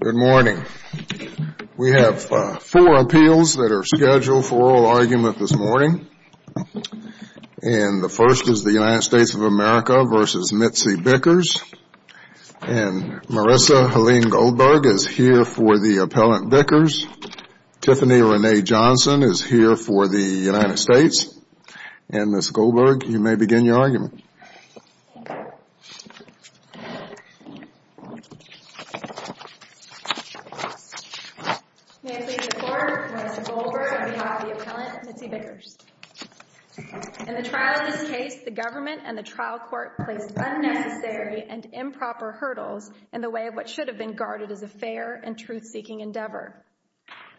Good morning. We have four appeals that are scheduled for oral argument this morning. And the first is the United States of America v. Mitzi Bickers. And Marissa Helene Goldberg is here for the appellant Bickers. Tiffany Renee Johnson is here for the United States. And Ms. Goldberg, you may begin your argument. In the trial of this case, the government and the trial court placed unnecessary and improper hurdles in the way of what should have been guarded as a fair and truth-seeking endeavor.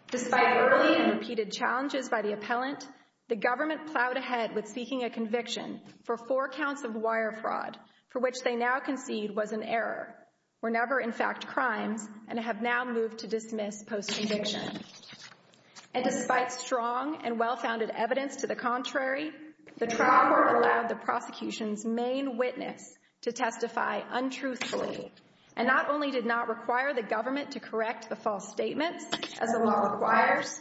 Despite early and repeated challenges by the appellant, the government plowed ahead with seeking a conviction for four counts of wire fraud, for which they now concede was an error, were never in fact crimes, and have now moved to dismiss post-conviction. And despite strong and well-founded evidence to the contrary, the trial court allowed the prosecution's main witness to testify untruthfully, and not only did not require the government to correct the false statements, as the law requires,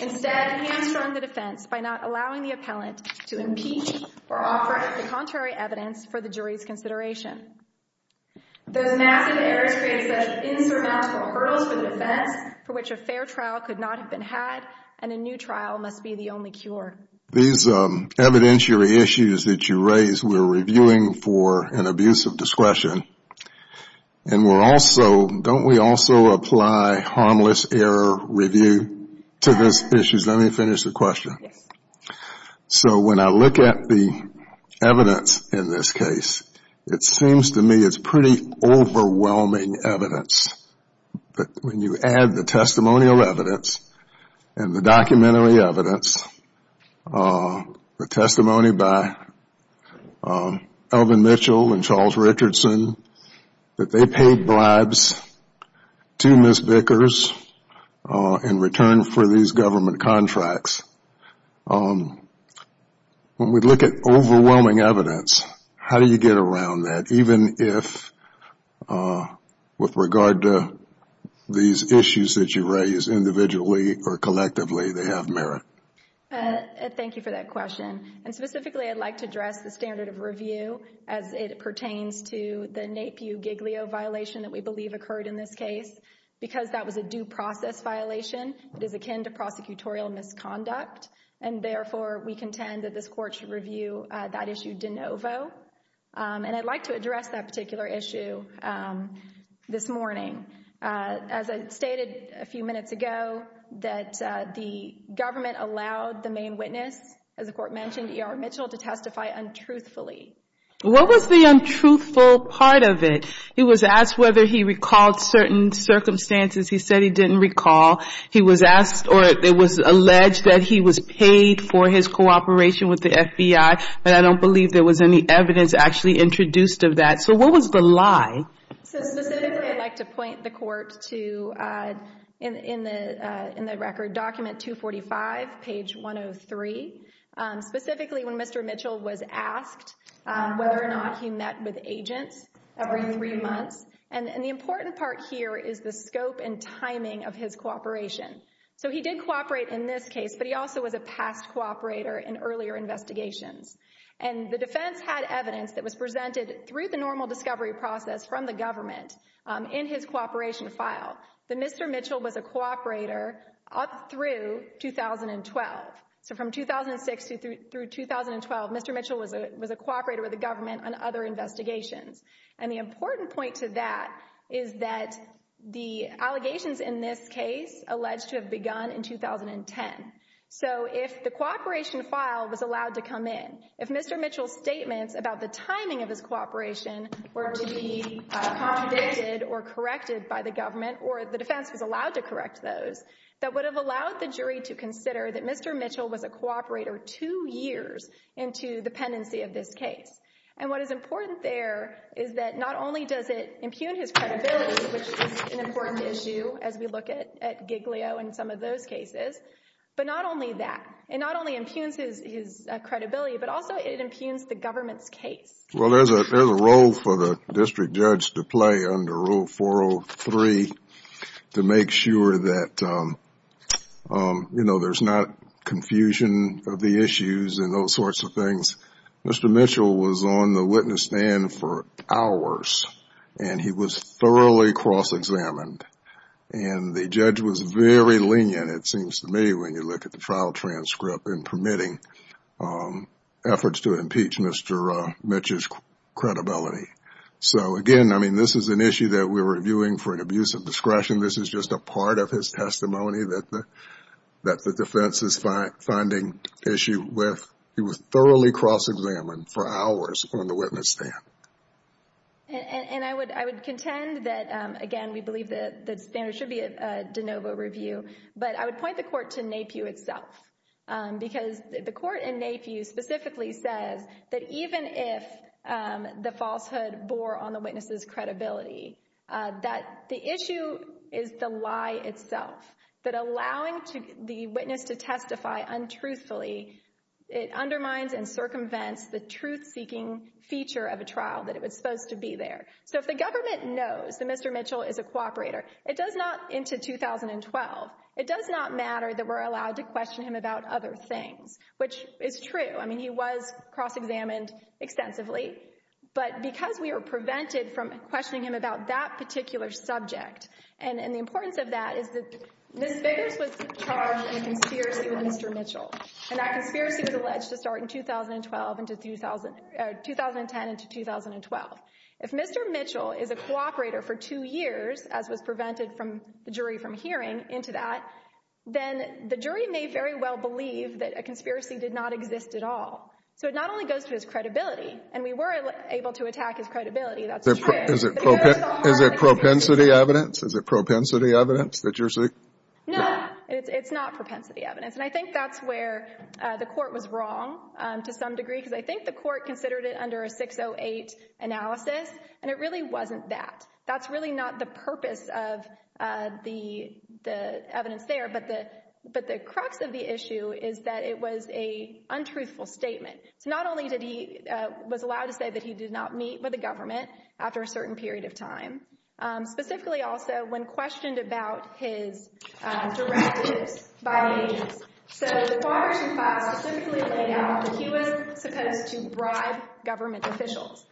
instead hamstrung the defense by not allowing the appellant to impeach or offer the contrary evidence for the jury's consideration. Those massive errors create such insurmountable hurdles for the defense, for which a fair trial could not have been had, and a new trial must be the only cure. These evidentiary issues that you raise, we're reviewing for an abuse of discretion, and we're also, don't we also apply harmless error review to these issues? Let me finish the question. So when I look at the evidence in this case, it seems to me it's pretty overwhelming evidence. But when you add the testimonial evidence and the documentary evidence, the testimony by Elvin Mitchell and Charles Richardson, that they paid bribes to Ms. Vickers in return for these government contracts, when we look at overwhelming evidence, how do you get around that? Even if with regard to these issues that you raise individually or collectively, they have merit? Thank you for that question. And specifically, I'd like to address the standard of review as it pertains to the NAPIU-Giglio violation that we believe occurred in this case. Because that was a due process violation, it is akin to prosecutorial misconduct. And therefore, we contend that this court should review that issue de novo. And I'd like to address that particular issue this morning. As I stated a few minutes ago, that the government allowed the main witness, as the court mentioned, ER Mitchell, to testify untruthfully. What was the untruthful part of it? He was asked whether he recalled certain circumstances. He said he didn't recall. He was asked or it was alleged that he was paid for his cooperation with the FBI, but I don't believe there was any evidence actually introduced of that. So what was the lie? So specifically, I'd like to point the court to, in the record, document 245, page 103. Specifically, when Mr. Mitchell was asked whether or not he met with agents every three months. And the important part here is the scope and timing of his cooperation. So he did cooperate in this case, but he also was a past cooperator in earlier investigations. And the defense had evidence that was presented through the normal discovery process from the government in his cooperation file, that Mr. Mitchell was a cooperator up through 2012. So from 2006 through 2012, Mr. Mitchell was a cooperator with the government on other investigations. And the important point to that is that the allegations in this case alleged to have begun in 2010. So if the cooperation file was allowed to come in, if Mr. Mitchell's statements about the timing of his cooperation were to be convicted or corrected by the government, or the defense was allowed to correct those, that would have allowed the jury to consider that Mr. Mitchell was a cooperator two years into the pendency of this case. And what is important there is that not only does it impugn his credibility, which is an important issue as we look at Giglio and some of those cases, but not only that, it not only impugns his credibility, but also it impugns the government's case. Well, there's a role for the district judge to play under Rule 403 to make sure that there's not confusion of the issues and those sorts of things. Mr. Mitchell was on the witness stand for hours and he was thoroughly cross-examined. And the judge was very lenient, it seems to me, when you look at the trial transcript in permitting efforts to impeach Mr. Mitchell's credibility. So again, I mean, this is an issue that we're reviewing for an abuse of discretion. This is just a part of his testimony that the defense is finding issue with. He was thoroughly cross-examined for hours on the witness stand. And I would contend that, again, we believe that standards should be a de novo review, but I would point the court to NAPIW itself. Because the court in NAPIW specifically says that even if the falsehood bore on the witness's credibility, that the issue is the lie itself. That allowing the witness to testify untruthfully, it undermines and circumvents the truth-seeking feature of a trial that it was supposed to be there. So if the government knows that Mr. Mitchell is a cooperator, it does not, into 2012, it does not matter that we're allowed to question him about other things, which is true. I mean, he was cross-examined extensively. But because we were prevented from questioning him about that particular subject, and the importance of that is that Ms. Biggers was charged in a conspiracy with Mr. Mitchell. And that conspiracy was alleged to start in 2012 into 2010 into 2012. If Mr. Mitchell is a cooperator for two years, as was prevented from the jury from hearing, into that, then the jury may very well believe that a conspiracy did not exist at all. So it not only goes to his credibility, and we were able to attack his credibility, that's true. Is it propensity evidence? Is it propensity evidence that you're seeking? No, it's not propensity evidence. And I think that's where the Court was wrong to some degree, because I think the Court considered it under a 608 analysis, and it really wasn't that. That's really not the purpose of the evidence there. But the crux of the issue is that it was an untruthful statement. So not only did he — was allowed to say that he did not meet with government after a certain period of time, specifically also when questioned about his directives by the agents. So the Quarters and Files specifically laid out that he was supposed to bribe government officials.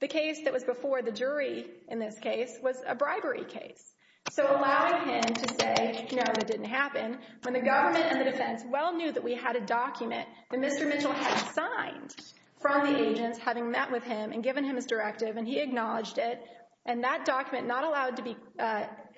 The case that was before the jury in this case was a bribery case. So allowing him to say, no, that didn't happen, when the government and the defense well knew that we had a document that Mr. Mitchell had signed from the agents having met with him and his directive, and he acknowledged it, and that document not allowed to be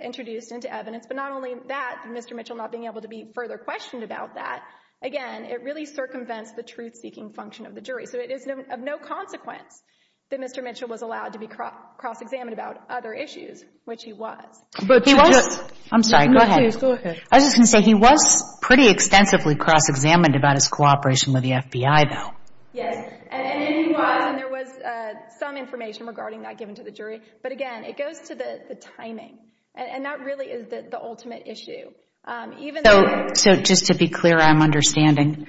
introduced into evidence. But not only that, Mr. Mitchell not being able to be further questioned about that, again, it really circumvents the truth-seeking function of the jury. So it is of no consequence that Mr. Mitchell was allowed to be cross-examined about other issues, which he was. But he was — I'm sorry, go ahead. Go ahead. I was just going to say, he was pretty extensively cross-examined about his cooperation with the FBI, though. Yes. And then he was, and there was some information regarding that given to the jury. But again, it goes to the timing. And that really is the ultimate issue. Even though — So just to be clear, I'm understanding.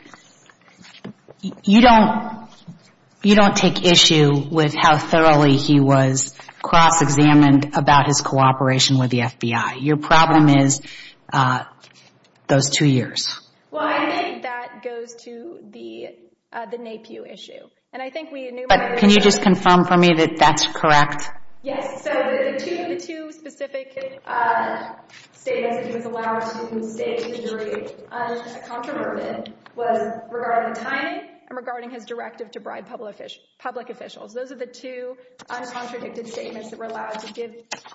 You don't take issue with how thoroughly he was cross-examined about his cooperation with the FBI. Your problem is those two years. Well, I think that goes to the NAPIU issue. And I think we enumerated — But can you just confirm for me that that's correct? Yes. So the two specific statements that he was allowed to state to the jury, uncontroverted, was regarding timing and regarding his directive to bribe public officials. Those are the two uncontradicted statements that were allowed to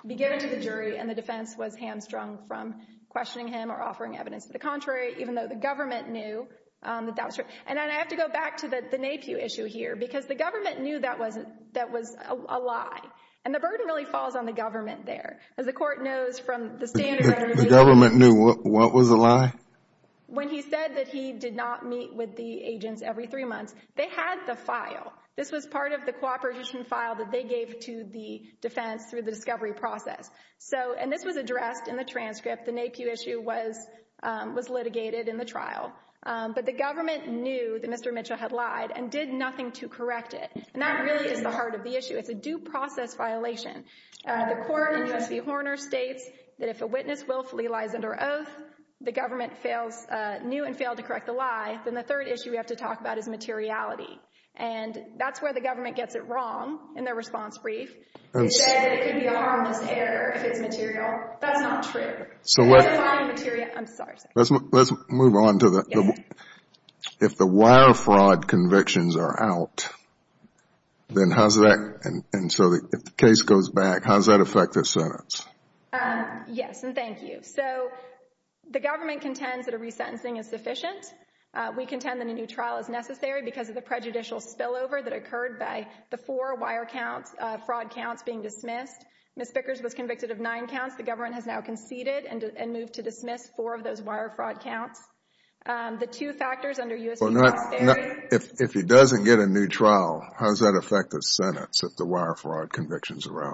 be given to the jury, and the defense was hamstrung from questioning him or offering evidence to the contrary, even though the government knew that that was true. And then I have to go back to the NAPIU issue here, because the government knew that was a lie. And the burden really falls on the government there. As the Court knows from the standard — The government knew what was a lie? When he said that he did not meet with the agents every three months. They had the file. This was part of the cooperation file that they gave to the defense through the discovery process. And this was addressed in the transcript. The NAPIU issue was litigated in the trial. But the government knew that Mr. Mitchell had lied and did nothing to correct it. And that really is the heart of the issue. It's a due process violation. The Court, in U.S. v. Horner, states that if a witness willfully lies under oath, the government knew and failed to correct the lie. Then the third issue we have to talk about is materiality. And that's where the government gets it wrong in their response brief. They said that it could be a harmless error if it's material. That's not true. Let's move on to the — If the wire fraud convictions are out, then how's that — and so if the case goes back, how's that affect the sentence? Yes, and thank you. So the government contends that a resentencing is sufficient. We contend that a new trial is necessary because of the prejudicial spillover that occurred by the four wire counts, fraud counts being dismissed. Ms. Bickers was convicted of nine counts. The government has now conceded and moved to dismiss four of those wire fraud counts. The two factors under U.S. v. Horner — If he doesn't get a new trial, how's that affect the sentence if the wire fraud convictions are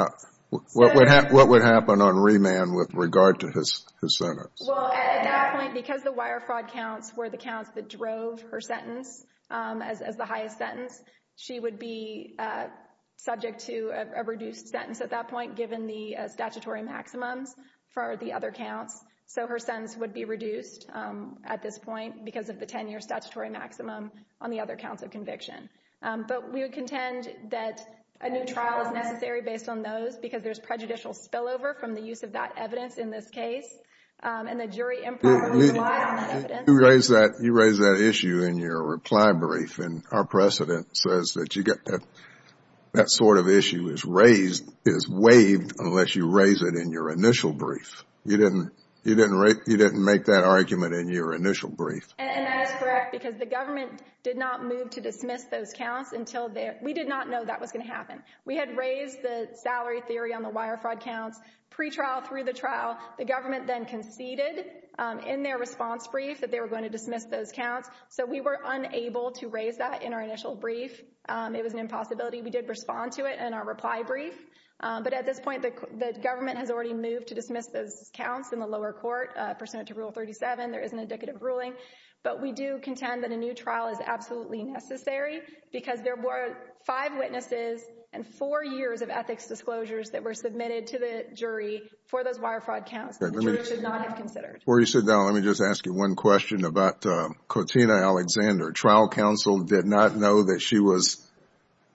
out? What would happen on remand with regard to his sentence? Well, at that point, because the wire fraud counts were the counts that drove her sentence as the highest sentence, she would be subject to a reduced sentence at that point, given the statutory maximums for the other counts. So her sentence would be reduced at this point because of the 10-year statutory maximum on the other counts of conviction. But we would contend that a new trial is necessary based on those because there's prejudicial spillover from the use of that evidence in this case, and the jury improperly relied on that evidence. You raised that issue in your reply brief, and our precedent says that you get that sort of issue is raised — is waived unless you raise it in your initial brief. You didn't make that argument in your initial brief. And that is correct because the government did not move to dismiss those counts until — we did not know that was going to happen. We had raised the salary theory on the wire fraud counts pre-trial through the trial. The government then conceded in their response brief that they were going to dismiss those counts. So we were unable to raise that in our initial brief. It was an impossibility. We did respond to it in our reply brief. But at this point, the government has already moved to dismiss those counts in the lower court pursuant to Rule 37. There is an indicative ruling. But we do contend that a new trial is absolutely necessary because there were five witnesses and four years of ethics disclosures that were submitted to the jury for those wire fraud counts that the jury should not have considered. Before you sit down, let me just ask you one question about Cortina Alexander. Trial counsel did not know that she was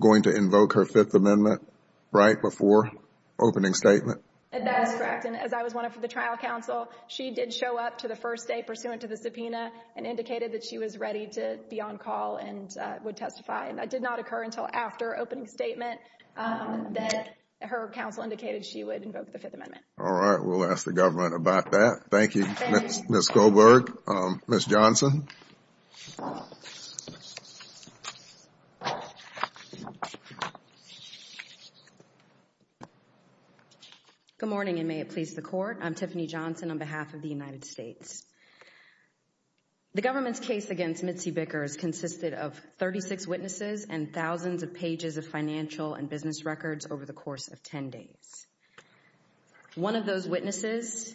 going to invoke her Fifth Amendment, right, before opening statement? That is correct. And as I was one of the trial counsel, she did show up to the first day pursuant to the subpoena and indicated that she was ready to be on call and would testify. And that did not occur until after opening statement that her counsel indicated she would invoke the Fifth Amendment. All right. We will ask the government about that. Thank you, Ms. Goldberg. Ms. Johnson. Good morning and may it please the Court. I am Tiffany Johnson on behalf of the United States. The government's case against Mitzi Bickers consisted of 36 witnesses and thousands of pages of financial and business records over the course of 10 days. One of those witnesses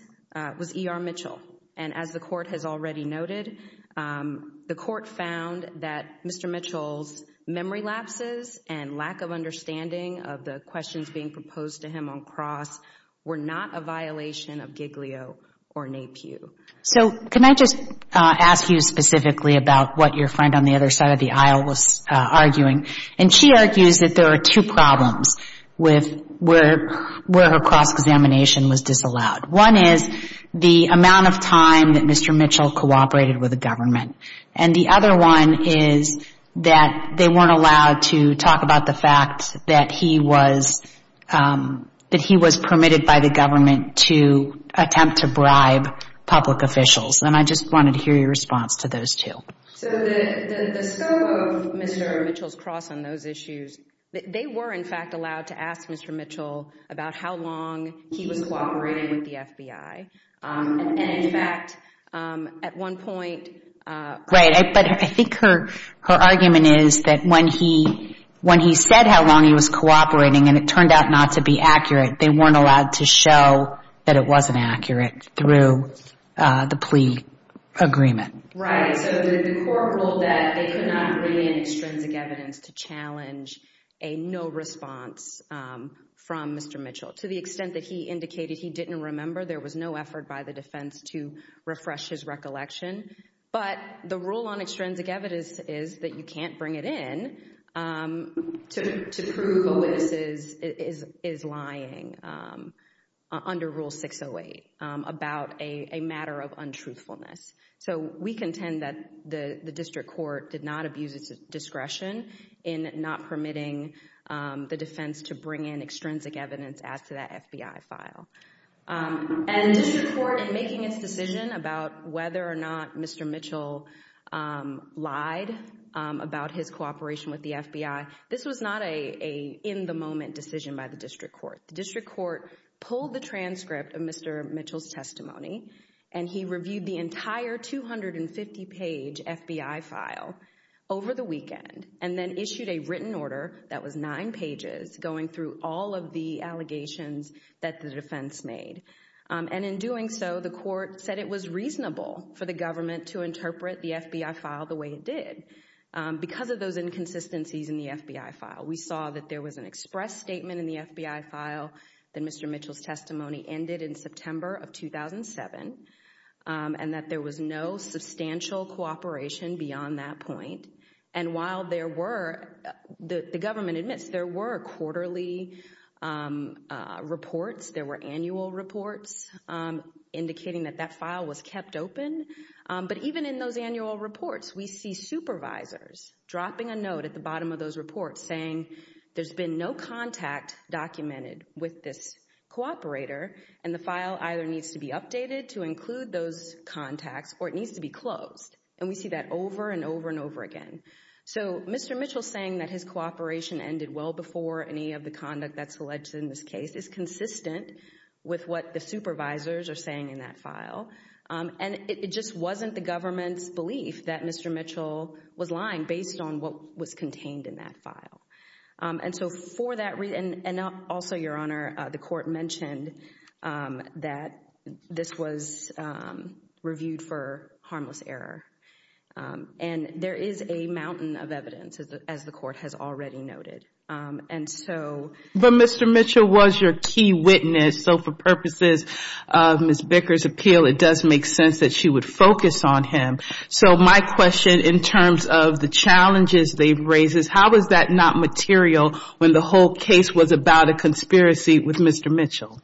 was E.R. Mitchell. And as the Court has already noted, the Court found that Mr. Mitchell's memory lapses and lack of understanding of the questions being proposed to him on cross were not a violation of Giglio or NAPIU. So can I just ask you specifically about what your friend on the other side of the aisle was arguing? And she argues that there are two problems with where her cross examination was disallowed. One is the amount of time that Mr. Mitchell cooperated with the government. And the other one is that they weren't allowed to talk about the fact that he was permitted by the government to attempt to bribe public officials. And I just wanted to hear your response to those two. So the scope of Mr. Mitchell's cross on those issues, they were in fact allowed to ask Mr. Mitchell about how long he was cooperating with the FBI. And in fact, at one point... Right, but I think her argument is that when he said how long he was cooperating and it turned out not to be accurate, they weren't allowed to show that it wasn't accurate through the plea agreement. Right. So the court ruled that they could not bring in extrinsic evidence to challenge a no response from Mr. Mitchell. To the extent that he indicated he didn't remember, there was no effort by the defense to refresh his recollection. But the rule on extrinsic evidence is that you can't bring it in to prove a witness is lying under Rule 608 about a matter of untruthfulness. So we contend that the district court did not abuse its discretion in not permitting the defense to bring in extrinsic evidence as to that FBI file. And the district court in making its decision about whether or not Mr. Mitchell lied about his cooperation with the FBI, this was not an in the moment decision by the district court. The district court pulled the transcript of Mr. Mitchell's testimony and he reviewed the entire 250 page FBI file over the weekend and then issued a written order that was nine pages going through all of the allegations that the defense made. And in doing so, the court said it was reasonable for the government to interpret the FBI file the way it did because of those inconsistencies in the FBI file. We saw that there was an express statement in the FBI file that Mr. Mitchell's testimony ended in September of 2007 and that there was no substantial cooperation beyond that point. And while there were, the government admits there were quarterly reports, there were annual reports indicating that that file was kept open. But even in those annual reports, we see supervisors dropping a note at the bottom of those and the file either needs to be updated to include those contacts or it needs to be closed. And we see that over and over and over again. So Mr. Mitchell saying that his cooperation ended well before any of the conduct that's alleged in this case is consistent with what the supervisors are saying in that file. And it just wasn't the government's belief that Mr. Mitchell was lying based on what was contained in that file. And so for that reason, and also, Your Honor, the court mentioned that this was reviewed for harmless error. And there is a mountain of evidence, as the court has already noted. And so... But Mr. Mitchell was your key witness. So for purposes of Ms. Bicker's appeal, it does make sense that she would focus on him. So my question in terms of the challenges they've raised is how was that not material when the whole case was about a conspiracy with Mr. Mitchell?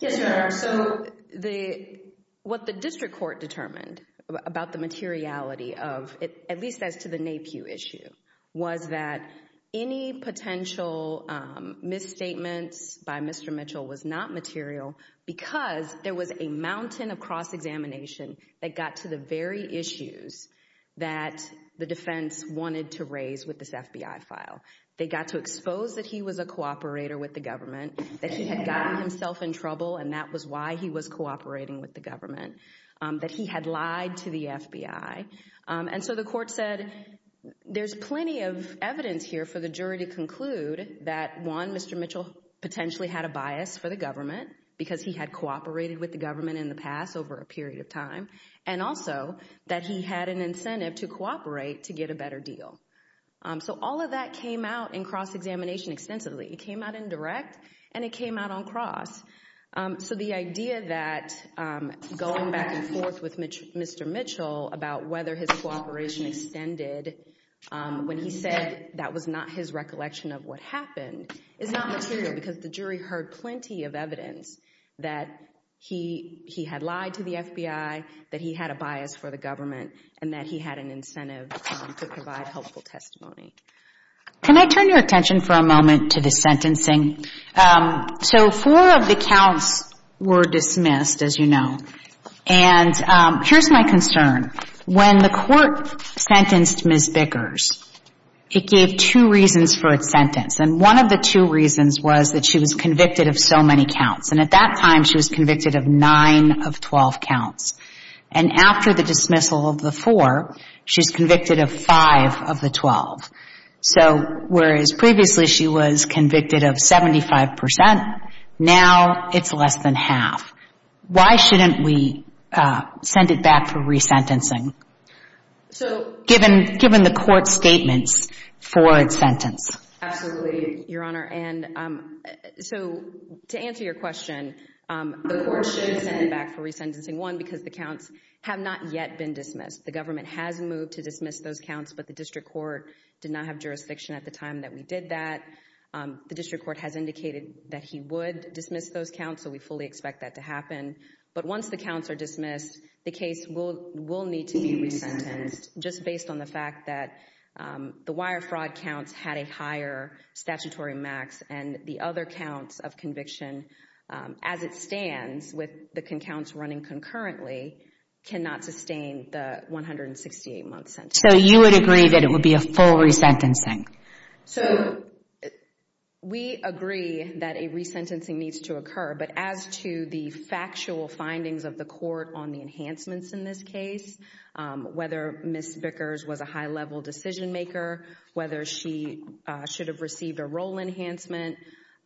Yes, Your Honor. So what the district court determined about the materiality of it, at least as to the NAPIU issue, was that any potential misstatements by Mr. Mitchell was not material because there was a mountain of cross-examination that got to the very issues that the defense wanted to raise with this FBI file. They got to expose that he was a cooperator with the government, that he had gotten himself in trouble and that was why he was cooperating with the government, that he had lied to the FBI. And so the court said there's plenty of evidence here for the jury to conclude that, one, Mr. Mitchell potentially had a bias for the government because he had cooperated with the government in the past over a period of time, and also that he had an incentive to cooperate to get a better deal. So all of that came out in cross-examination extensively. It came out in direct and it came out on cross. So the idea that going back and forth with Mr. Mitchell about whether his cooperation extended when he said that was not his recollection of what happened is not material because the jury heard plenty of evidence that he had lied to the FBI, that he had a bias for the government, and that he had an incentive to provide helpful testimony. Can I turn your attention for a moment to the sentencing? So four of the counts were dismissed, as you know, and here's my concern. When the court sentenced Ms. Bickers, it gave two reasons for its sentence. And one of the two reasons was that she was convicted of so many counts, and at that time she was convicted of nine of 12 counts. And after the dismissal of the four, she's convicted of five of the 12. So whereas previously she was convicted of 75 percent, now it's less than half. Why shouldn't we send it back for resentencing, given the court's statements for its sentence? Absolutely, Your Honor. And so to answer your question, the court should send it back for resentencing, one, because the counts have not yet been dismissed. The government has moved to dismiss those counts, but the district court did not have jurisdiction at the time that we did that. The district court has indicated that he would dismiss those counts, so we fully expect that to happen. But once the counts are dismissed, the case will need to be resentenced, just based on the fact that the wire fraud counts had a higher statutory max, and the other counts of conviction, as it stands, with the counts running concurrently, cannot sustain the 168 month sentence. So you would agree that it would be a full resentencing? So we agree that a resentencing needs to occur. But as to the factual findings of the court on the enhancements in this case, whether Ms. Bickers was a high-level decision maker, whether she should have received a role enhancement,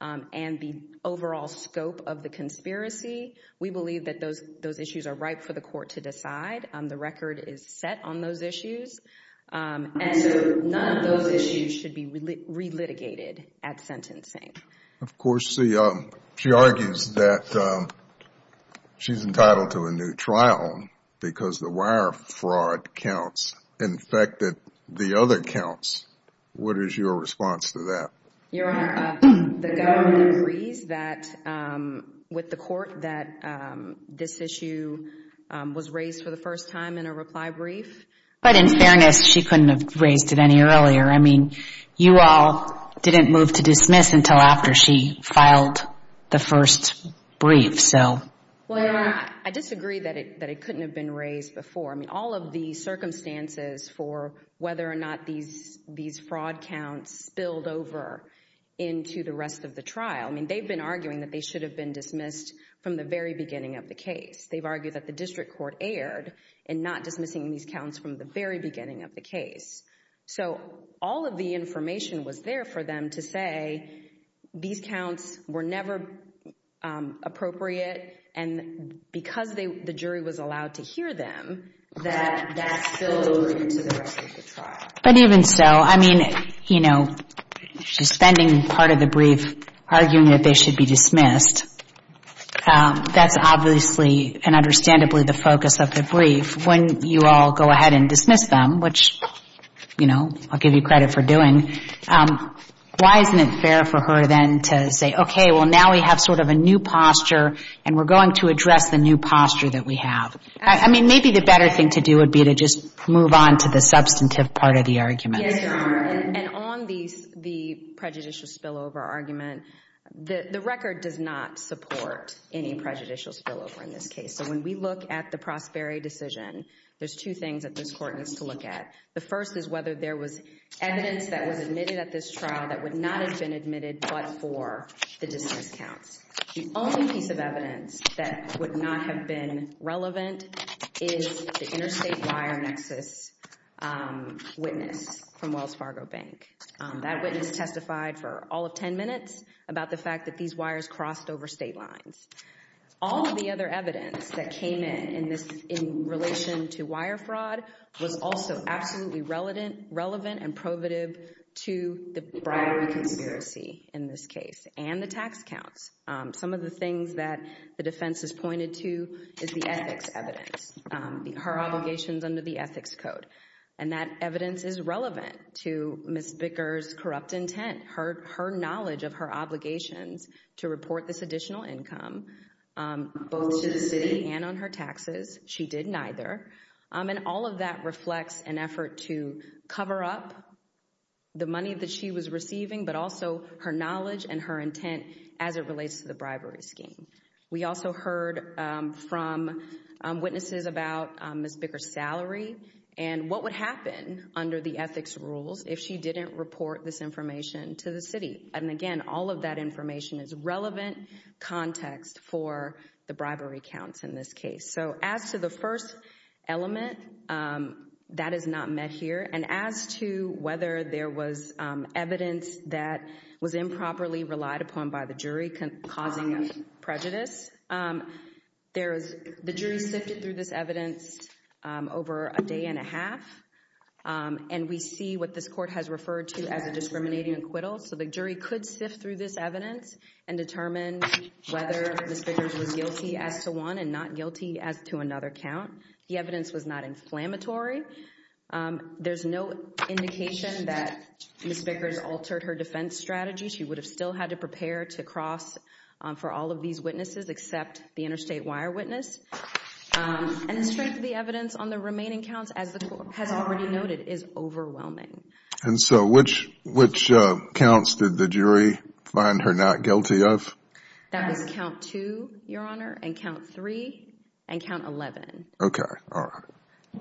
and the overall scope of the conspiracy, we believe that those issues are ripe for the court to decide. The record is set on those issues. And so none of those issues should be relitigated at sentencing. Of course, she argues that she's entitled to a new trial because the wire fraud counts infected the other counts. What is your response to that? Your Honor, the government agrees that, with the court, that this issue was raised for the first time in a reply brief. But in fairness, she couldn't have raised it any earlier. I mean, you all didn't move to dismiss until after she filed the first brief, so. Well, Your Honor, I disagree that it couldn't have been raised before. I mean, all of the circumstances for whether or not these fraud counts spilled over into the rest of the trial, I mean, they've been arguing that they should have been dismissed from the very beginning of the case. They've argued that the district court erred in not dismissing these counts from the very beginning of the case. So all of the information was there for them to say these counts were never appropriate. And because the jury was allowed to hear them, that spilled over into the rest of the trial. But even so, I mean, you know, she's spending part of the brief arguing that they should be dismissed. That's obviously and understandably the focus of the brief. When you all go ahead and dismiss them, which, you know, I'll give you credit for doing, why isn't it fair for her then to say, okay, well, now we have sort of a new posture and we're going to address the new posture that we have? I mean, maybe the better thing to do would be to just move on to the substantive part of the argument. Yes, Your Honor. And on the prejudicial spillover argument, the record does not support any prejudicial spillover in this case. So when we look at the Prosperi decision, there's two things that this court needs to look at. The first is whether there was evidence that was admitted at this trial that would not have been admitted but for the dismissed counts. The only piece of evidence that would not have been relevant is the interstate wire access witness from Wells Fargo Bank. That witness testified for all of 10 minutes about the fact that these wires crossed over state lines. All of the other evidence that came in in relation to wire fraud was also absolutely relevant and prohibitive to the bribery conspiracy in this case and the tax counts. Some of the things that the defense has pointed to is the ethics evidence, her obligations under the ethics code. And that evidence is relevant to Ms. Bicker's corrupt intent, her knowledge of her obligations to report this additional income, both to the city and on her taxes. She did neither. And all of that reflects an effort to cover up the money that she was receiving, but also her knowledge and her intent as it relates to the bribery scheme. We also heard from witnesses about Ms. Bicker's salary and what would happen under the ethics rules if she didn't report this information to the city. And again, all of that information is relevant context for the bribery counts in this case. So as to the first element, that is not met here. And as to whether there was evidence that was improperly relied upon by the jury causing prejudice, the jury sifted through this evidence over a day and a half. And we see what this court has referred to as a discriminating acquittal. So the jury could sift through this evidence and determine whether Ms. Bicker's was guilty as to one and not guilty as to another count. The evidence was not inflammatory. There's no indication that Ms. Bicker's altered her defense strategy. She would have still had to prepare to cross for all of these witnesses except the interstate wire witness. And the strength of the evidence on the remaining counts, as the court has already noted, is overwhelming. And so which counts did the jury find her not guilty of? That was count two, Your Honor, and count three and count 11. Okay, all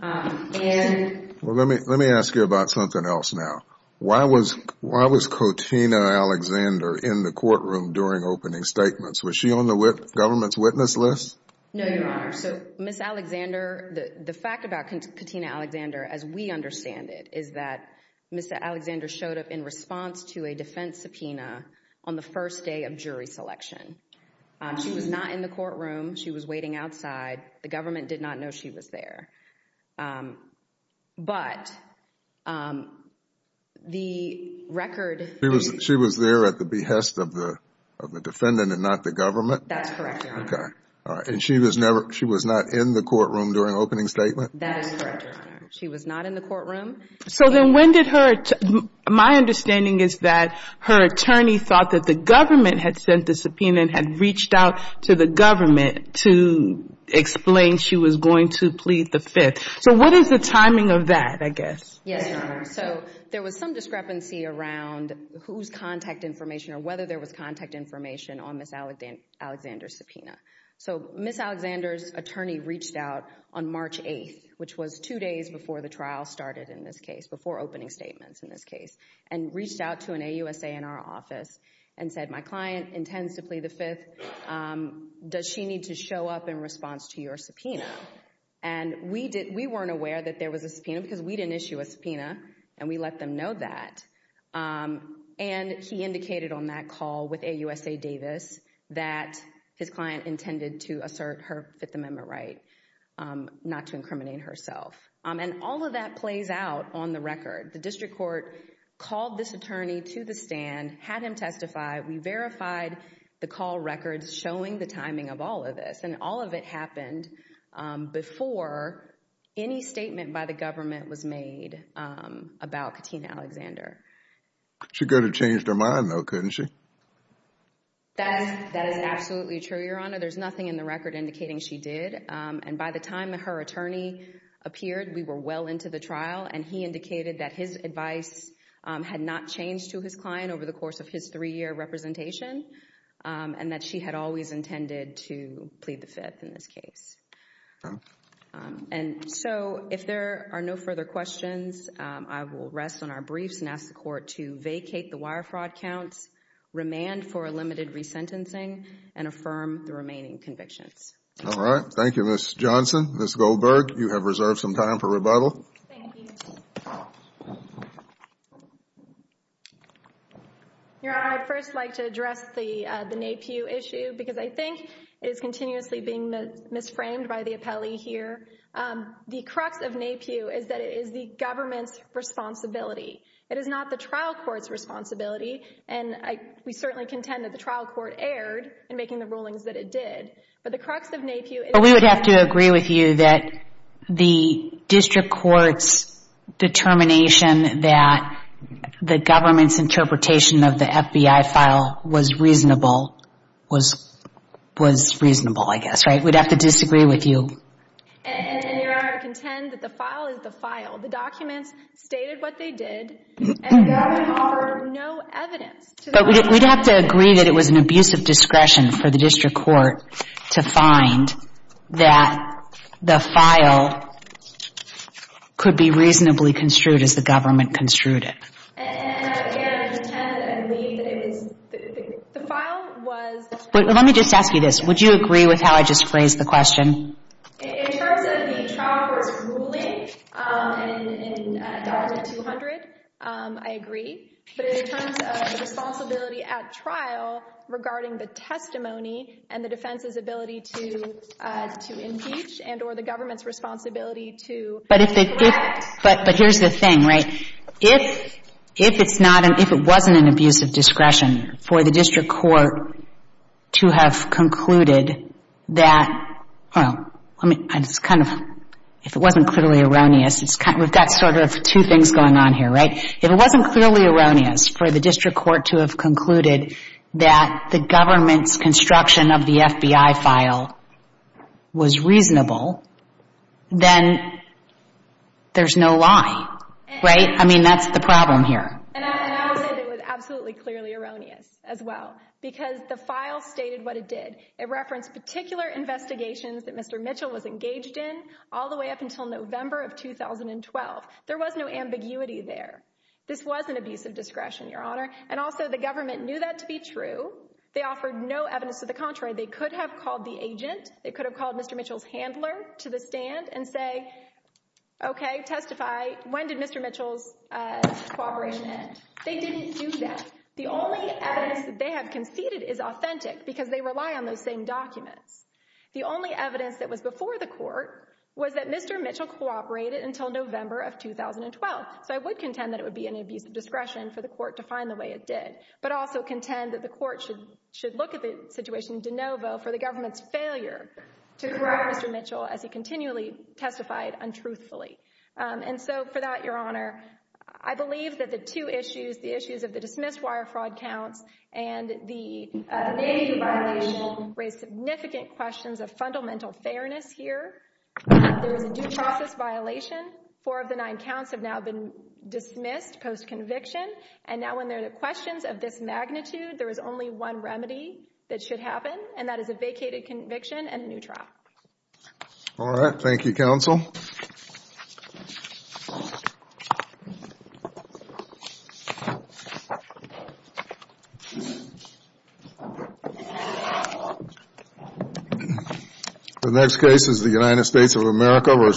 right. Well, let me ask you about something else now. Why was Katina Alexander in the courtroom during opening statements? Was she on the government's witness list? No, Your Honor. So Ms. Alexander, the fact about Katina Alexander as we understand it is that Ms. Alexander showed up in response to a defense subpoena on the first day of jury selection. She was not in the courtroom. She was waiting outside. The government did not know she was there. But the record... She was there at the behest of the defendant and not the government? That's correct, Your Honor. Okay, all right. And she was never, she was not in the courtroom during opening statement? That is correct, Your Honor. She was not in the courtroom. So then when did her, my understanding is that her attorney thought that the government had sent the subpoena and had reached out to the government to explain she was going to plead the fifth. So what is the timing of that, I guess? Yes, Your Honor. So there was some discrepancy around whose contact information or whether there was contact information on Ms. Alexander's subpoena. So Ms. Alexander's attorney reached out on March 8th, which was two days before the trial started in this case, before opening statements in this case, and reached out to an AUSANR office and said, my client intends to plead the fifth. Does she need to show up in response to your subpoena? And we weren't aware that there was a subpoena because we didn't issue a subpoena and we let them know that. And he indicated on that call with AUSA Davis that his client intended to assert her Fifth Amendment right not to incriminate herself. And all of that plays out on the record. The district court called this attorney to the stand, had him testify. We verified the call records showing the timing of all of this. And all of it happened before any statement by the government was made about Katina Alexander. She could have changed her mind, though, couldn't she? That is absolutely true, Your Honor. There's nothing in the record indicating she did. And by the time her attorney appeared, we were well into the trial. And he indicated that his advice had not changed to his client over the course of his three-year representation and that she had always intended to plead the fifth in this case. And so if there are no further questions, I will rest on our briefs and ask the court to vacate the wire fraud counts, remand for a limited resentencing, and affirm the remaining convictions. All right. Thank you, Ms. Johnson. Ms. Goldberg, you have reserved some time for rebuttal. Thank you. Your Honor, I'd first like to address the NAPIU issue, because I think it is continuously being misframed by the appellee here. The crux of NAPIU is that it is the government's responsibility. It is not the trial court's responsibility. And we certainly contend that the trial court erred in making the rulings that it did. But the crux of NAPIU is that it is the government's responsibility. Determination that the government's interpretation of the FBI file was reasonable was reasonable, I guess, right? We'd have to disagree with you. And your Honor, I contend that the file is the file. The documents stated what they did, and the government offered no evidence to the crime. But we'd have to agree that it was an abuse of discretion for the district court to find that the file could be reasonably construed as the government construed it. And again, I contend and believe that it was the file was the trial court's responsibility. Let me just ask you this. Would you agree with how I just phrased the question? In terms of the trial court's ruling in Doctrine 200, I agree. But in terms of the responsibility at trial regarding the testimony and the defense's responsibility to impeach and or the government's responsibility to correct. But here's the thing, right? If it wasn't an abuse of discretion for the district court to have concluded that, if it wasn't clearly erroneous, we've got sort of two things going on here, right? If it wasn't clearly erroneous for the district court to have concluded that the government's construction of the FBI file was reasonable, then there's no lie, right? I mean, that's the problem here. And I would say that it was absolutely clearly erroneous as well, because the file stated what it did. It referenced particular investigations that Mr. Mitchell was engaged in all the way up until November of 2012. There was no ambiguity there. This was an abuse of discretion, Your Honor. And also the government knew that to be true. They offered no evidence to the contrary. They could have called the agent. They could have called Mr. Mitchell's handler to the stand and say, okay, testify. When did Mr. Mitchell's cooperation end? They didn't do that. The only evidence that they have conceded is authentic because they rely on those same documents. The only evidence that was before the court was that Mr. Mitchell cooperated until November of 2012. So I would contend that it would be an abuse of discretion for the court to find the way it did, but also contend that the court should look at the situation de novo for the government's failure to correct Mr. Mitchell as he continually testified untruthfully. And so for that, Your Honor, I believe that the two issues, the issues of the dismissed wire fraud counts and the navigating violation raise significant questions of fundamental fairness here. There was a due process violation. Four of the nine counts have now been dismissed post-conviction. Now when there are questions of this magnitude, there is only one remedy that should happen, and that is a vacated conviction and a new trial. All right. Thank you, counsel. The next case is the United States of America v.